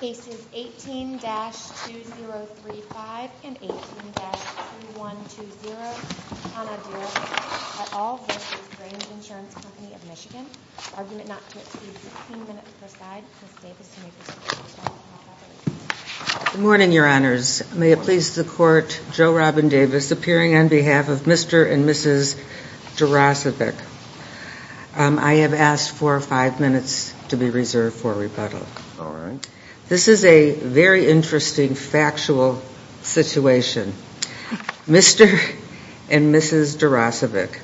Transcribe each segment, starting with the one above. Case 18-2035 and 18-2120 Hana Durasevic v. Grange Insurance Co. of MI Argument not to exceed 16 minutes per side. Ms. Davis, you may proceed. Good morning, Your Honors. May it please the Court, Joe Robin Davis, appearing on behalf of Mr. and Mrs. Durasevic. I have asked for five minutes to be reserved for rebuttal. All right. This is a very interesting factual situation. Mr. and Mrs. Durasevic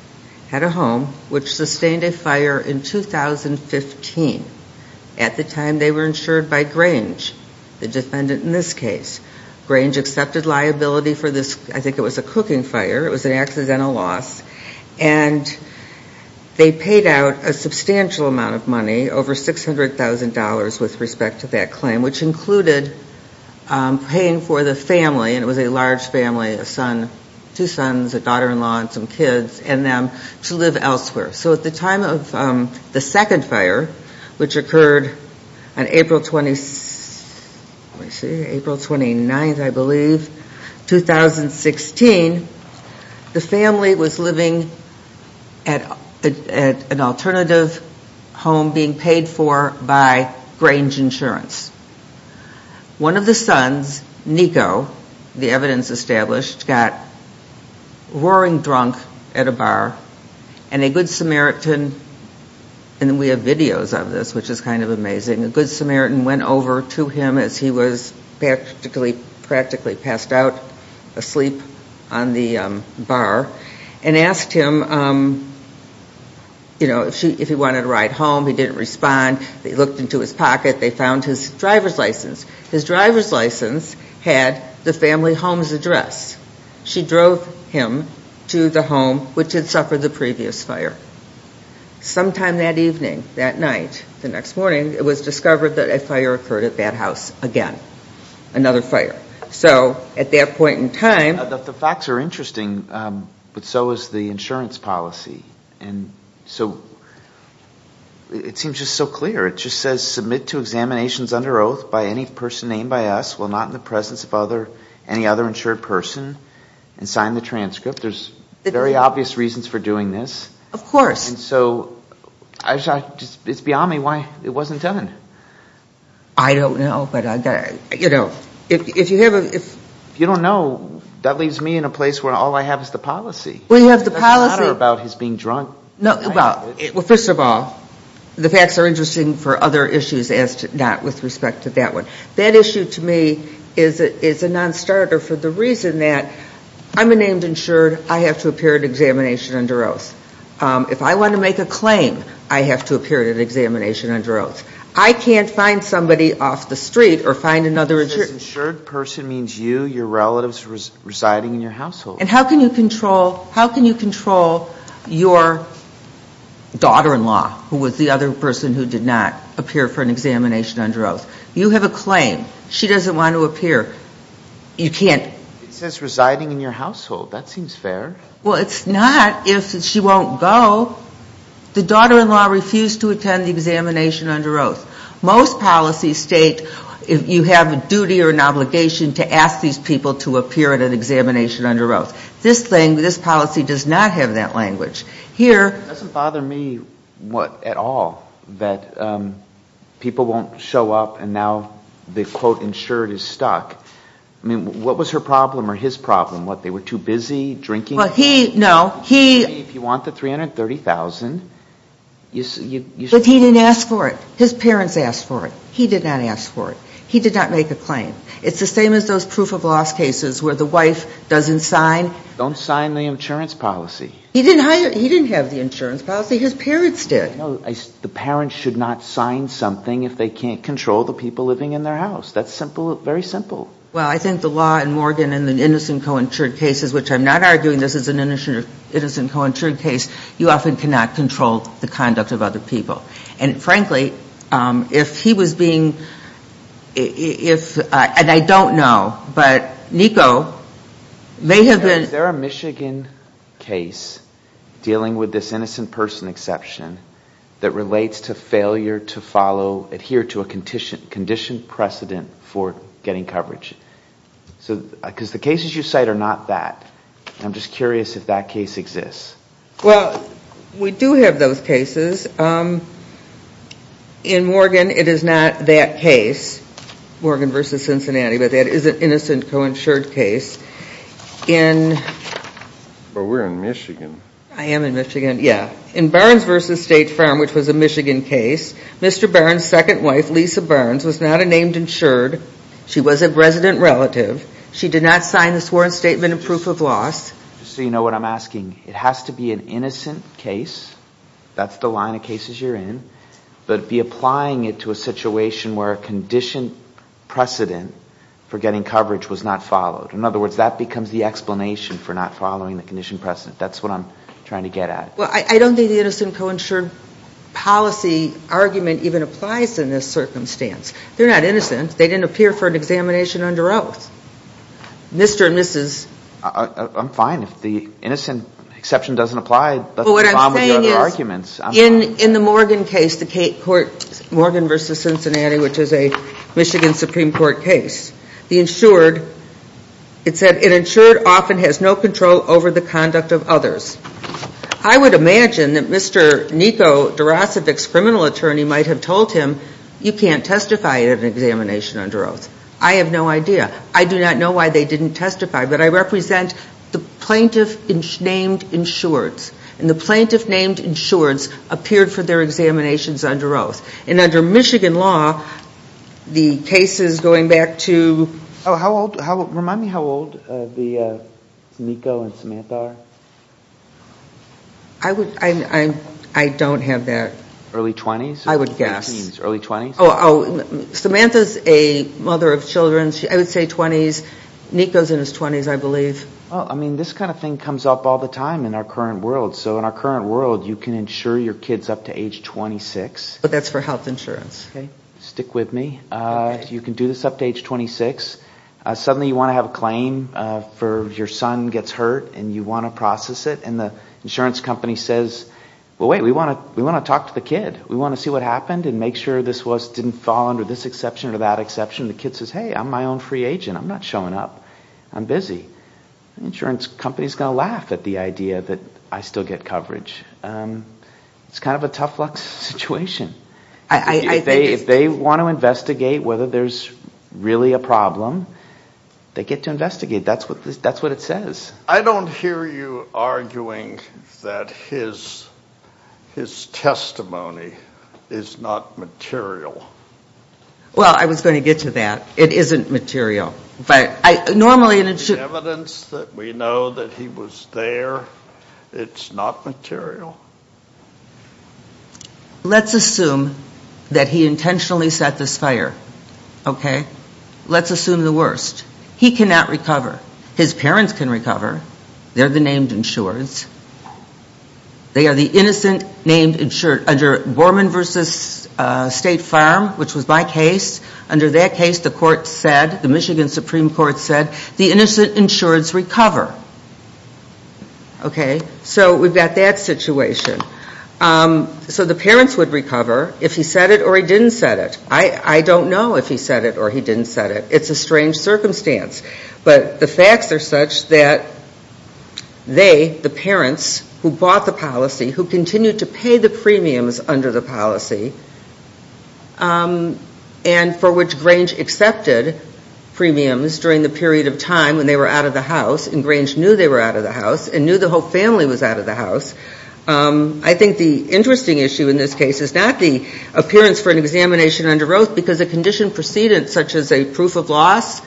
had a home which sustained a fire in 2015. At the time, they were insured by Grange, the defendant in this case. Grange accepted liability for this, I think it was a cooking fire. It was an accidental loss. And they paid out a substantial amount of money, over $600,000 with respect to that claim, which included paying for the family, and it was a large family, a son, two sons, a daughter-in-law and some kids, and them to live elsewhere. So at the time of the second fire, which occurred on April 29th, I believe, 2016, the family was living at an alternative home being paid for by Grange Insurance. One of the sons, Nico, the evidence established, got roaring drunk at a bar, and a good Samaritan, and we have videos of this, which is kind of amazing, a good Samaritan went over to him as he was practically passed out asleep on the bar and asked him if he wanted a ride home. He didn't respond. They looked into his pocket. They found his driver's license. His driver's license had the family home's address. She drove him to the home which had suffered the previous fire. Sometime that evening, that night, the next morning, it was discovered that a fire occurred at that house again, another fire. So at that point in time... The facts are interesting, but so is the insurance policy. And so it seems just so clear. It just says submit to examinations under oath by any person named by us while not in the presence of any other insured person, and sign the transcript. There's very obvious reasons for doing this. Of course. And so it's beyond me why it wasn't done. I don't know, but, you know, if you have a... If you don't know, that leaves me in a place where all I have is the policy. Well, you have the policy. It doesn't matter about his being drunk. Well, first of all, the facts are interesting for other issues as not with respect to that one. That issue to me is a nonstarter for the reason that I'm a named insured. I have to appear at an examination under oath. If I want to make a claim, I have to appear at an examination under oath. I can't find somebody off the street or find another... If it says insured person means you, your relatives residing in your household. And how can you control your daughter-in-law, who was the other person who did not appear for an examination under oath? You have a claim. She doesn't want to appear. You can't... It says residing in your household. That seems fair. Well, it's not if she won't go. The daughter-in-law refused to attend the examination under oath. Most policies state if you have a duty or an obligation to ask these people to appear at an examination under oath. This thing, this policy does not have that language. Here... It doesn't bother me at all that people won't show up and now the quote insured is stuck. I mean, what was her problem or his problem? What, they were too busy drinking? No, he... If you want the $330,000... But he didn't ask for it. His parents asked for it. He did not ask for it. He did not make a claim. It's the same as those proof of loss cases where the wife doesn't sign. Don't sign the insurance policy. He didn't have the insurance policy. His parents did. The parents should not sign something if they can't control the people living in their house. That's simple, very simple. Well, I think the law in Morgan and the innocent co-insured cases, which I'm not arguing this is an innocent co-insured case, you often cannot control the conduct of other people. And frankly, if he was being... And I don't know, but NICO may have been... Is there a Michigan case dealing with this innocent person exception that relates to failure to follow, adhere to a conditioned precedent for getting coverage? Because the cases you cite are not that. I'm just curious if that case exists. Well, we do have those cases. In Morgan, it is not that case, Morgan v. Cincinnati, but that is an innocent co-insured case. But we're in Michigan. I am in Michigan, yeah. In Burns v. State Farm, which was a Michigan case, Mr. Burns' second wife, Lisa Burns, was not a named insured. She was a resident relative. She did not sign the sworn statement of proof of loss. So you know what I'm asking. It has to be an innocent case. That's the line of cases you're in. But be applying it to a situation where a conditioned precedent for getting coverage was not followed. In other words, that becomes the explanation for not following the conditioned precedent. That's what I'm trying to get at. Well, I don't think the innocent co-insured policy argument even applies in this circumstance. They're not innocent. They didn't appear for an examination under oath. Mr. and Mrs. I'm fine if the innocent exception doesn't apply. But what I'm saying is in the Morgan case, the Morgan v. Cincinnati, which is a Michigan Supreme Court case, the insured, it said an insured often has no control over the conduct of others. I would imagine that Mr. Niko Dorosevic's criminal attorney might have told him, you can't testify at an examination under oath. I have no idea. I do not know why they didn't testify. But I represent the plaintiff named insureds. And the plaintiff named insureds appeared for their examinations under oath. And under Michigan law, the cases going back to Remind me how old Niko and Samantha are. I don't have that. Early 20s? I would guess. Early 20s? Samantha's a mother of children. I would say 20s. Niko's in his 20s, I believe. I mean, this kind of thing comes up all the time in our current world. So in our current world, you can insure your kids up to age 26. But that's for health insurance. Stick with me. You can do this up to age 26. Suddenly you want to have a claim for your son gets hurt and you want to process it. And the insurance company says, well, wait, we want to talk to the kid. We want to see what happened and make sure this didn't fall under this exception or that exception. The kid says, hey, I'm my own free agent. I'm not showing up. I'm busy. The insurance company is going to laugh at the idea that I still get coverage. It's kind of a tough luck situation. If they want to investigate whether there's really a problem, they get to investigate. That's what it says. I don't hear you arguing that his testimony is not material. Well, I was going to get to that. It isn't material. The evidence that we know that he was there, it's not material. Let's assume that he intentionally set this fire. Okay? Let's assume the worst. He cannot recover. His parents can recover. They're the named insurers. They are the innocent named insurers. Under Borman v. State Farm, which was my case, under that case, the court said, the Michigan Supreme Court said, the innocent insureds recover. Okay? So we've got that situation. So the parents would recover if he said it or he didn't say it. I don't know if he said it or he didn't say it. It's a strange circumstance. But the facts are such that they, the parents who bought the policy, who continued to pay the premiums under the policy, and for which Grange accepted premiums during the period of time when they were out of the house, and Grange knew they were out of the house, and knew the whole family was out of the house. I think the interesting issue in this case is not the appearance for an examination under oath, because a condition precedence such as a proof of loss,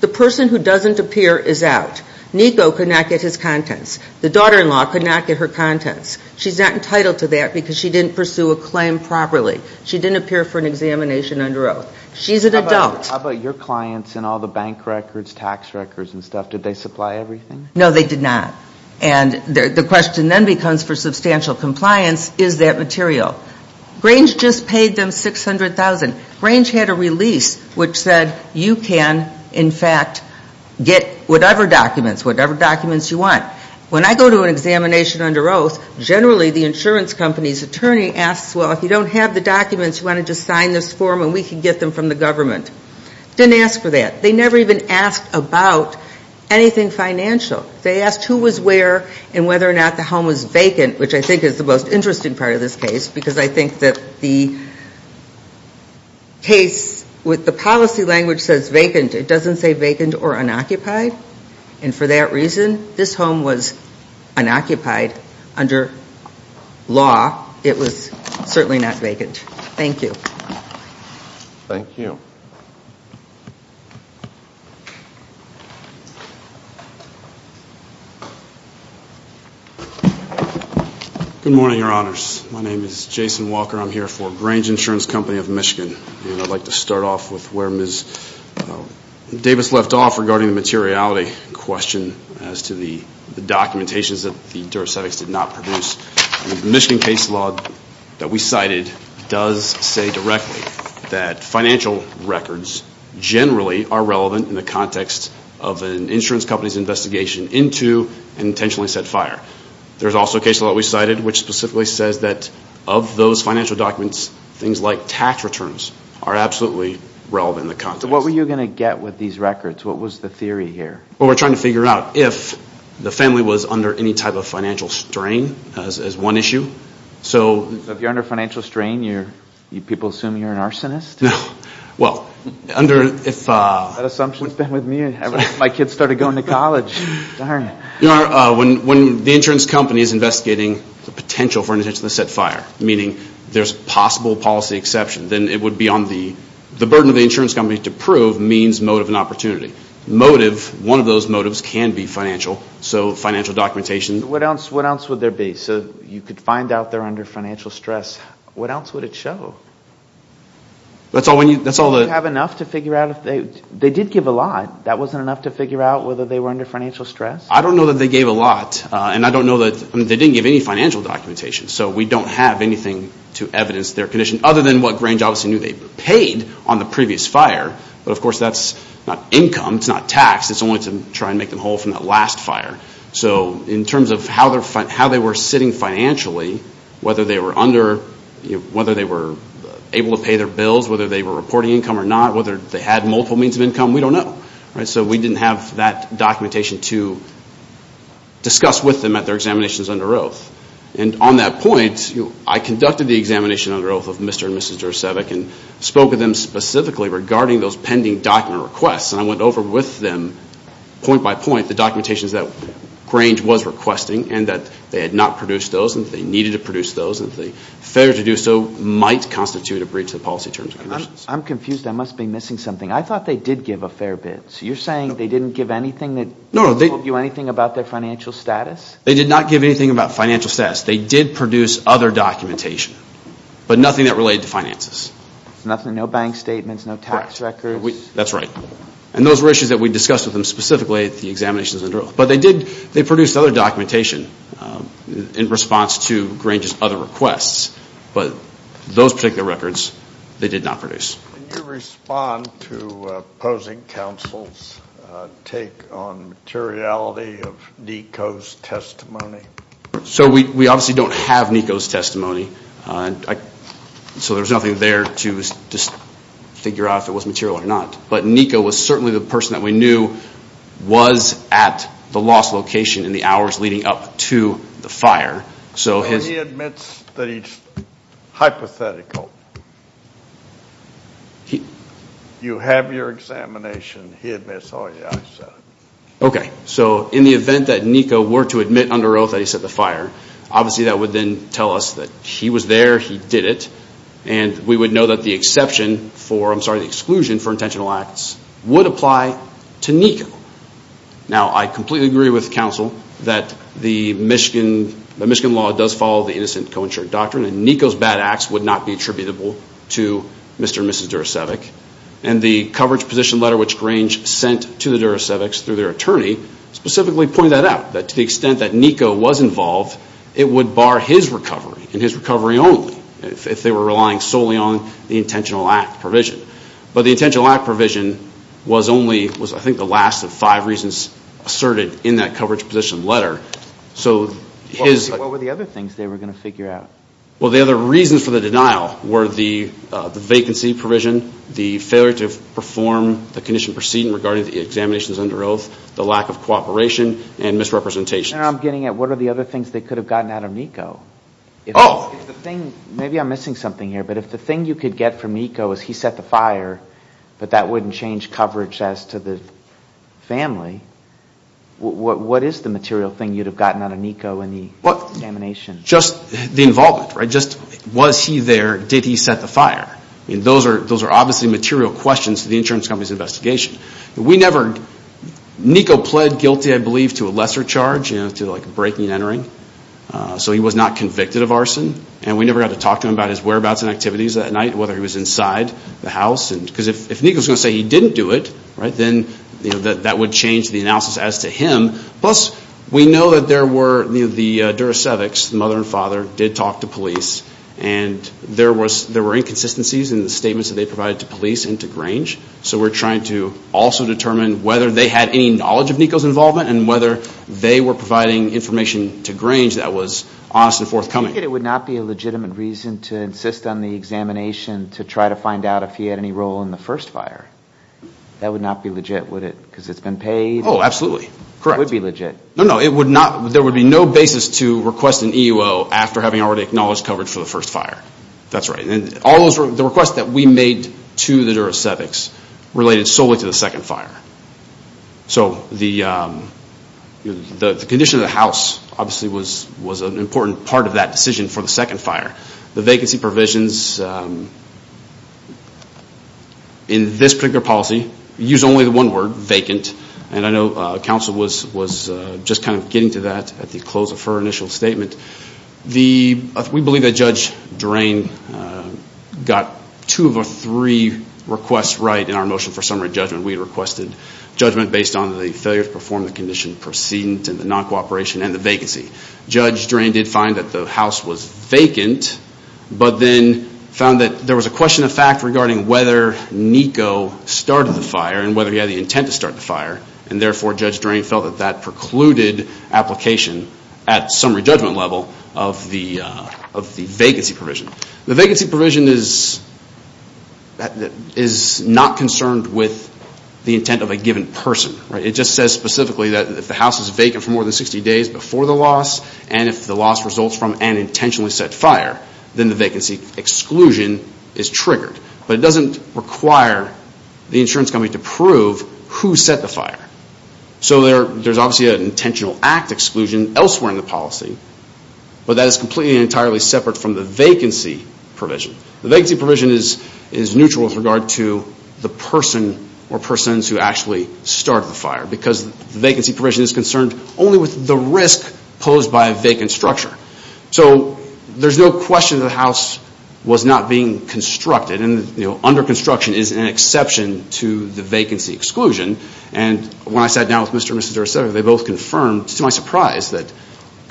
the person who doesn't appear is out. Nico could not get his contents. The daughter-in-law could not get her contents. She's not entitled to that because she didn't pursue a claim properly. She didn't appear for an examination under oath. She's an adult. How about your clients and all the bank records, tax records and stuff? Did they supply everything? No, they did not. And the question then becomes, for substantial compliance, is that material? Grange just paid them $600,000. Grange had a release which said, you can, in fact, get whatever documents, whatever documents you want. When I go to an examination under oath, generally the insurance company's attorney asks, well, if you don't have the documents, you want to just sign this form and we can get them from the government. Didn't ask for that. They never even asked about anything financial. They asked who was where and whether or not the home was vacant, which I think is the most interesting part of this case, because I think that the case with the policy language says vacant. It doesn't say vacant or unoccupied. And for that reason, this home was unoccupied under law. It was certainly not vacant. Thank you. Thank you. Good morning, Your Honors. My name is Jason Walker. I'm here for Grange Insurance Company of Michigan. I'd like to start off with where Ms. Davis left off regarding the materiality question as to the documentations that the jurisdicts did not produce. The Michigan case law that we cited does say directly that financial records generally are relevant in the context of an insurance company's investigation into an intentionally set fire. There's also a case law that we cited which specifically says that of those financial documents, things like tax returns are absolutely relevant in the context. What were you going to get with these records? What was the theory here? We're trying to figure out if the family was under any type of financial strain as one issue. If you're under financial strain, do people assume you're an arsonist? No. That assumption has been with me ever since my kids started going to college. When the insurance company is investigating the potential for an intentionally set fire, meaning there's possible policy exception, then it would be on the burden of the insurance company to prove means, motive, and opportunity. Motive, one of those motives can be financial, so financial documentation. What else would there be? So you could find out they're under financial stress. What else would it show? That's all the... Do you have enough to figure out if they did give a lot? That wasn't enough to figure out whether they were under financial stress? I don't know that they gave a lot, and I don't know that they didn't give any financial documentation. So we don't have anything to evidence their condition, other than what Grange obviously knew they were paid on the previous fire. But, of course, that's not income. It's not tax. It's only to try and make them whole from that last fire. So in terms of how they were sitting financially, whether they were able to pay their bills, whether they were reporting income or not, whether they had multiple means of income, we don't know. So we didn't have that documentation to discuss with them at their examinations under oath. And on that point, I conducted the examination under oath of Mr. and Mrs. Drusevic and spoke with them specifically regarding those pending document requests. And I went over with them point by point the documentations that Grange was requesting and that they had not produced those and that they needed to produce those and that the failure to do so might constitute a breach of the policy terms. I'm confused. I must be missing something. I thought they did give a fair bit. So you're saying they didn't give anything that told you anything about their financial status? They did not give anything about financial status. They did produce other documentation, but nothing that related to finances. Nothing, no bank statements, no tax records? That's right. And those were issues that we discussed with them specifically at the examinations under oath. But they did produce other documentation in response to Grange's other requests, but those particular records they did not produce. Can you respond to opposing counsel's take on materiality of Nico's testimony? So we obviously don't have Nico's testimony, so there's nothing there to just figure out if it was material or not. But Nico was certainly the person that we knew was at the lost location in the hours leading up to the fire. He admits that he's hypothetical. You have your examination. He admits, oh, yeah, I set it. Okay. So in the event that Nico were to admit under oath that he set the fire, obviously that would then tell us that he was there, he did it, and we would know that the exclusion for intentional acts would apply to Nico. Now, I completely agree with counsel that the Michigan law does follow the innocent co-insured doctrine and Nico's bad acts would not be attributable to Mr. and Mrs. Duracevic. And the coverage position letter which Grange sent to the Duracevics through their attorney specifically pointed that out, that to the extent that Nico was involved, it would bar his recovery and his recovery only if they were relying solely on the intentional act provision. But the intentional act provision was only, I think, the last of five reasons asserted in that coverage position letter. What were the other things they were going to figure out? Well, the other reasons for the denial were the vacancy provision, the failure to perform the condition proceeding regarding the examinations under oath, the lack of cooperation, and misrepresentations. I'm getting at what are the other things they could have gotten out of Nico. Maybe I'm missing something here, but if the thing you could get from Nico is he set the fire, but that wouldn't change coverage as to the family, what is the material thing you'd have gotten out of Nico in the examination? Just the involvement, right? Just was he there, did he set the fire? Those are obviously material questions to the insurance company's investigation. We never – Nico pled guilty, I believe, to a lesser charge, to breaking and entering. So he was not convicted of arson. And we never got to talk to him about his whereabouts and activities that night, whether he was inside the house. Because if Nico's going to say he didn't do it, right, then that would change the analysis as to him. Plus, we know that there were – the Duracevics, the mother and father, did talk to police. And there were inconsistencies in the statements that they provided to police and to Grange. So we're trying to also determine whether they had any knowledge of Nico's involvement and whether they were providing information to Grange that was honest and forthcoming. I take it it would not be a legitimate reason to insist on the examination to try to find out if he had any role in the first fire. That would not be legit, would it, because it's been paid? Oh, absolutely, correct. It would be legit. No, no, it would not – there would be no basis to request an EUO after having already acknowledged coverage for the first fire. That's right. And all those – the requests that we made to the Duracevics related solely to the second fire. So the condition of the house obviously was an important part of that decision for the second fire. The vacancy provisions in this particular policy use only the one word, vacant. And I know counsel was just kind of getting to that at the close of her initial statement. We believe that Judge Drain got two of the three requests right in our motion for summary judgment. We requested judgment based on the failure to perform the condition precedent and the non-cooperation and the vacancy. Judge Drain did find that the house was vacant, but then found that there was a question of fact regarding whether Niko started the fire and whether he had the intent to start the fire. And therefore, Judge Drain felt that that precluded application at summary judgment level of the vacancy provision. The vacancy provision is not concerned with the intent of a given person. It just says specifically that if the house is vacant for more than 60 days before the loss and if the loss results from an intentionally set fire, then the vacancy exclusion is triggered. But it doesn't require the insurance company to prove who set the fire. So there's obviously an intentional act exclusion elsewhere in the policy, but that is completely and entirely separate from the vacancy provision. The vacancy provision is neutral with regard to the person or persons who actually started the fire because the vacancy provision is concerned only with the risk posed by a vacant structure. So there's no question that the house was not being constructed, and under construction is an exception to the vacancy exclusion. And when I sat down with Mr. and Mrs. DeRosier, they both confirmed, to my surprise, that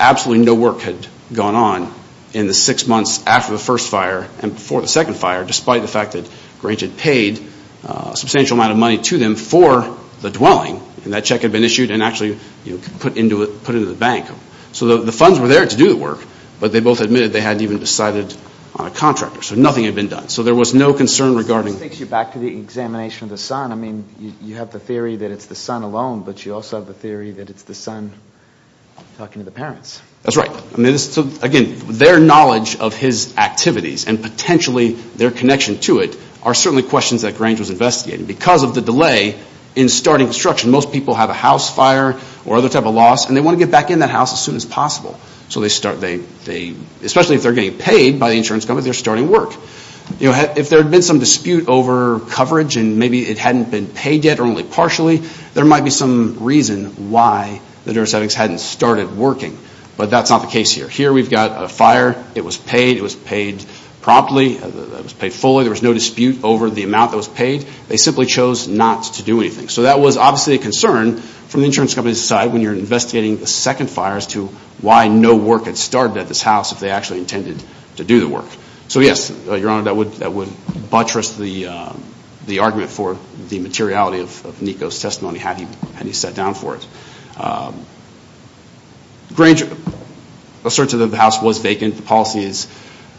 absolutely no work had gone on in the six months after the first fire and before the second fire, despite the fact that Grange had paid a substantial amount of money to them for the dwelling. And that check had been issued and actually put into the bank. So the funds were there to do the work, but they both admitted they hadn't even decided on a contractor. So nothing had been done. So there was no concern regarding... It takes you back to the examination of the son. I mean, you have the theory that it's the son alone, but you also have the theory that it's the son talking to the parents. That's right. Again, their knowledge of his activities and potentially their connection to it are certainly questions that Grange was investigating. Because of the delay in starting construction, most people have a house fire or other type of loss, and they want to get back in that house as soon as possible. So they start, especially if they're getting paid by the insurance company, they're starting work. If there had been some dispute over coverage and maybe it hadn't been paid yet or only partially, there might be some reason why the neurosettings hadn't started working. But that's not the case here. Here we've got a fire. It was paid. It was paid promptly. It was paid fully. There was no dispute over the amount that was paid. They simply chose not to do anything. So that was obviously a concern from the insurance company's side when you're investigating the second fire as to why no work had started at this house if they actually intended to do the work. So, yes, Your Honor, that would buttress the argument for the materiality of Niko's testimony had he sat down for it. Grange asserts that the house was vacant. The policy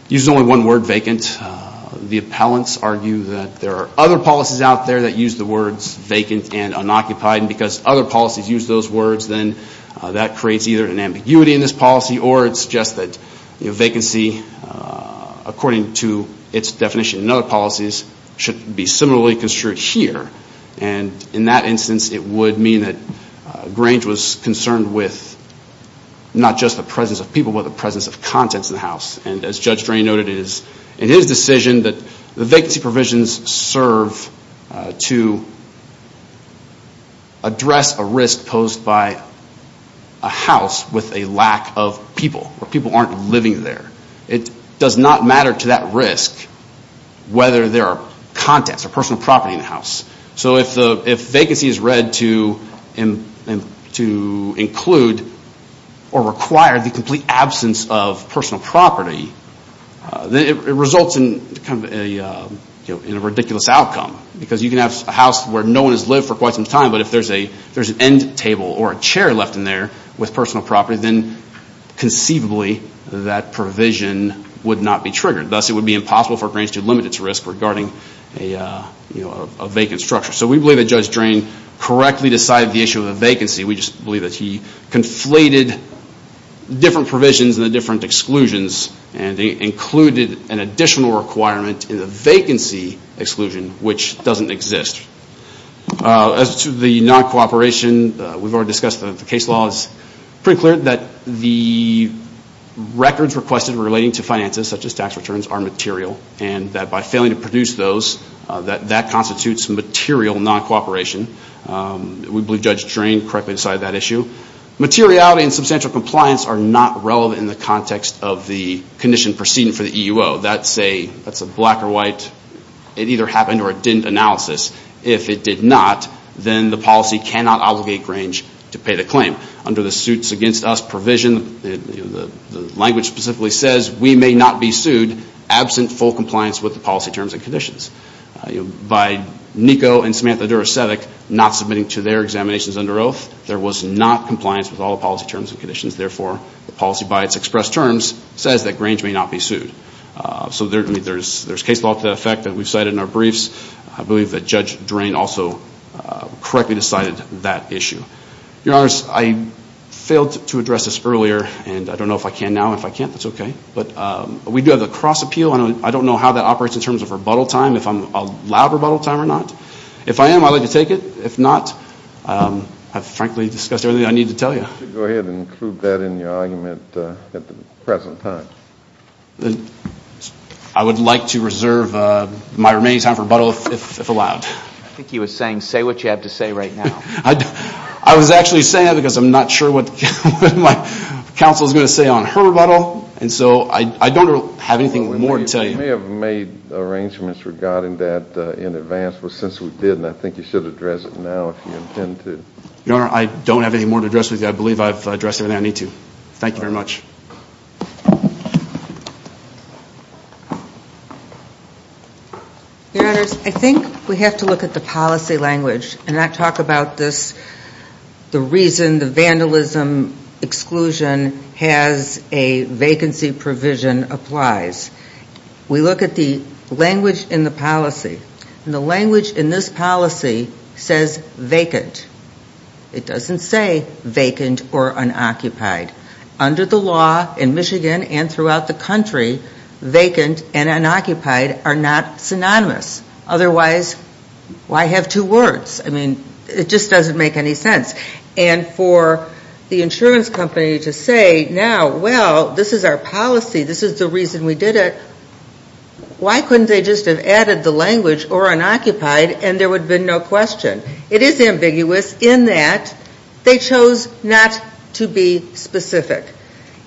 uses only one word, vacant. The appellants argue that there are other policies out there that use the words vacant and unoccupied, and because other policies use those words, then that creates either an ambiguity in this policy or it suggests that vacancy, according to its definition in other policies, should be similarly construed here. And in that instance, it would mean that Grange was concerned with not just the presence of people but the presence of contents in the house. And as Judge Drain noted in his decision, the vacancy provisions serve to address a risk posed by a house with a lack of people, where people aren't living there. It does not matter to that risk whether there are contents or personal property in the house. So if vacancy is read to include or require the complete absence of personal property, then it results in a ridiculous outcome. Because you can have a house where no one has lived for quite some time, but if there's an end table or a chair left in there with personal property, then conceivably that provision would not be triggered. Thus, it would be impossible for Grange to limit its risk regarding a vacant structure. So we believe that Judge Drain correctly decided the issue of the vacancy. We just believe that he conflated different provisions and the different exclusions and included an additional requirement in the vacancy exclusion, which doesn't exist. As to the non-cooperation, we've already discussed that the case law is pretty clear that the records requested relating to finances, such as tax returns, are material. And that by failing to produce those, that constitutes material non-cooperation. We believe Judge Drain correctly decided that issue. Materiality and substantial compliance are not relevant in the context of the condition proceeding for the EUO. That's a black or white, it either happened or it didn't analysis. If it did not, then the policy cannot obligate Grange to pay the claim. Under the suits against us provision, the language specifically says, we may not be sued absent full compliance with the policy terms and conditions. By NICO and Samantha Duracevic not submitting to their examinations under oath, there was not compliance with all the policy terms and conditions. Therefore, the policy by its expressed terms says that Grange may not be sued. So there's case law to that effect that we've cited in our briefs. I believe that Judge Drain also correctly decided that issue. Your Honor, I failed to address this earlier, and I don't know if I can now. If I can't, that's okay. But we do have the cross appeal. I don't know how that operates in terms of rebuttal time, if I'm allowed rebuttal time or not. If I am, I'd like to take it. If not, I've frankly discussed everything I need to tell you. Go ahead and include that in your argument at the present time. I would like to reserve my remaining time for rebuttal if allowed. I think he was saying, say what you have to say right now. I was actually saying that because I'm not sure what my counsel is going to say on her rebuttal. And so I don't have anything more to tell you. We may have made arrangements regarding that in advance, but since we did, and I think you should address it now if you intend to. Your Honor, I don't have any more to address with you. I believe I've addressed everything I need to. Thank you very much. Your Honors, I think we have to look at the policy language and not talk about this, the reason the vandalism exclusion has a vacancy provision applies. We look at the language in the policy. And the language in this policy says vacant. It doesn't say vacant or unoccupied. Under the law in Michigan and throughout the country, vacant and unoccupied are not synonymous. Otherwise, why have two words? I mean, it just doesn't make any sense. And for the insurance company to say, now, well, this is our policy, this is the reason we did it, why couldn't they just have added the language or unoccupied and there would have been no question? It is ambiguous in that they chose not to be specific.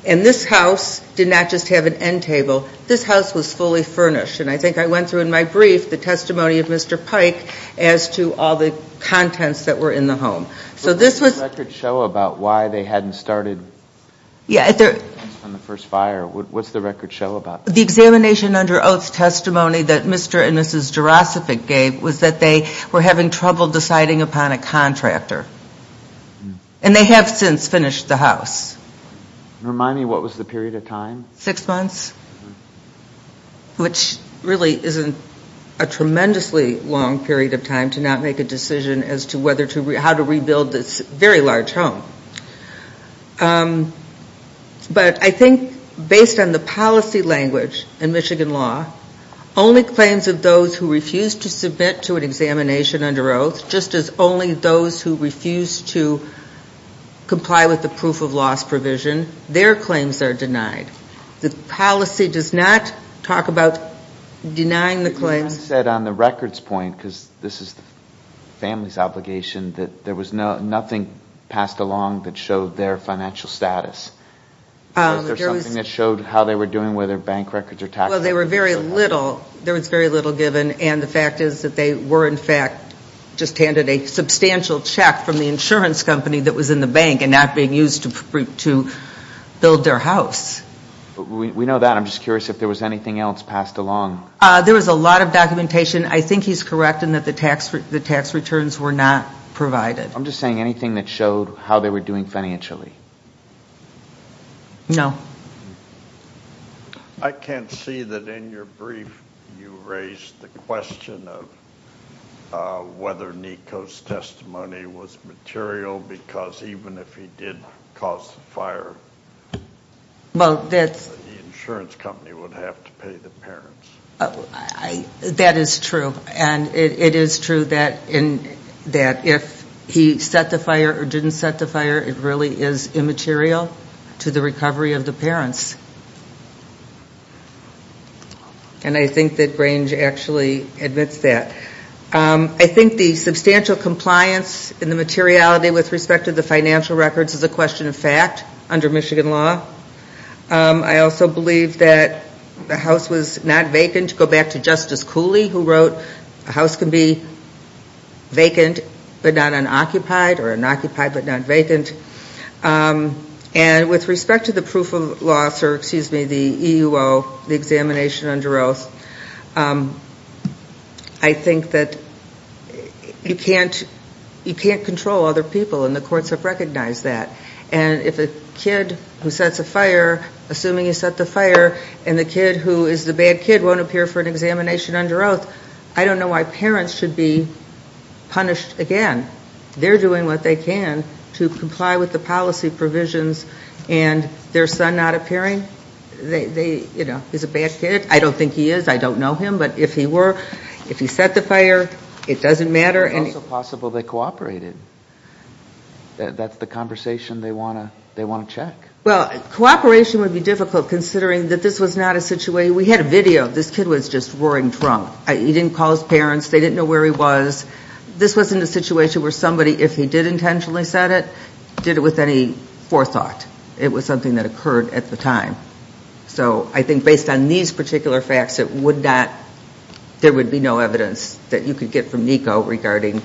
And this house did not just have an end table. This house was fully furnished. And I think I went through in my brief the testimony of Mr. Pike as to all the contents that were in the home. So this was ‑‑ What does the record show about why they hadn't started on the first fire? What does the record show about that? The examination under oath testimony that Mr. and Mrs. Jarosik gave was that they were having trouble deciding upon a contractor. And they have since finished the house. Remind me, what was the period of time? Six months. Which really isn't a tremendously long period of time to not make a decision as to how to rebuild this very large home. But I think based on the policy language in Michigan law, only claims of those who refuse to submit to an examination under oath, just as only those who refuse to comply with the proof of loss provision, their claims are denied. The policy does not talk about denying the claims. You said on the records point, because this is the family's obligation, that there was nothing passed along that showed their financial status. Was there something that showed how they were doing, whether bank records or tax records? Well, they were very little. There was very little given. And the fact is that they were, in fact, just handed a substantial check from the insurance company that was in the bank and not being used to build their house. We know that. I'm just curious if there was anything else passed along. There was a lot of documentation. I think he's correct in that the tax returns were not provided. I'm just saying anything that showed how they were doing financially. No. I can't see that in your brief you raised the question of whether NICO's testimony was material, because even if he did cause the fire, the insurance company would have to pay the parents. That is true. And it is true that if he set the fire or didn't set the fire, it really is immaterial to the recovery of the parents. And I think that Grange actually admits that. I think the substantial compliance in the materiality with respect to the financial records is a question of fact under Michigan law. I also believe that the house was not vacant. Go back to Justice Cooley, who wrote, a house can be vacant but not unoccupied or unoccupied but not vacant. And with respect to the proof of loss, or excuse me, the EUO, the examination under oath, I think that you can't control other people, and the courts have recognized that. And if a kid who sets a fire, assuming he set the fire, and the kid who is the bad kid won't appear for an examination under oath, I don't know why parents should be punished again. They're doing what they can to comply with the policy provisions. And their son not appearing, they, you know, he's a bad kid. I don't think he is. I don't know him. But if he were, if he set the fire, it doesn't matter. It's also possible they cooperated. That's the conversation they want to check. Well, cooperation would be difficult considering that this was not a situation. We had a video. This kid was just roaring drunk. He didn't call his parents. They didn't know where he was. This wasn't a situation where somebody, if he did intentionally set it, did it with any forethought. It was something that occurred at the time. So I think based on these particular facts, it would not, there would be no evidence that you could get from NICO regarding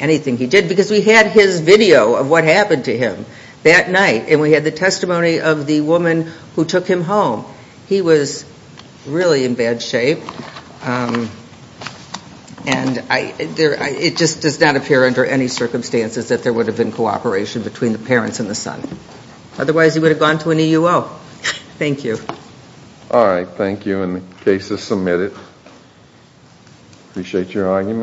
anything he did. Because we had his video of what happened to him that night, and we had the testimony of the woman who took him home. He was really in bad shape. And it just does not appear under any circumstances that there would have been cooperation between the parents and the son. Otherwise, he would have gone to an EUO. Thank you. All right. Thank you. And the case is submitted. Appreciate your argument.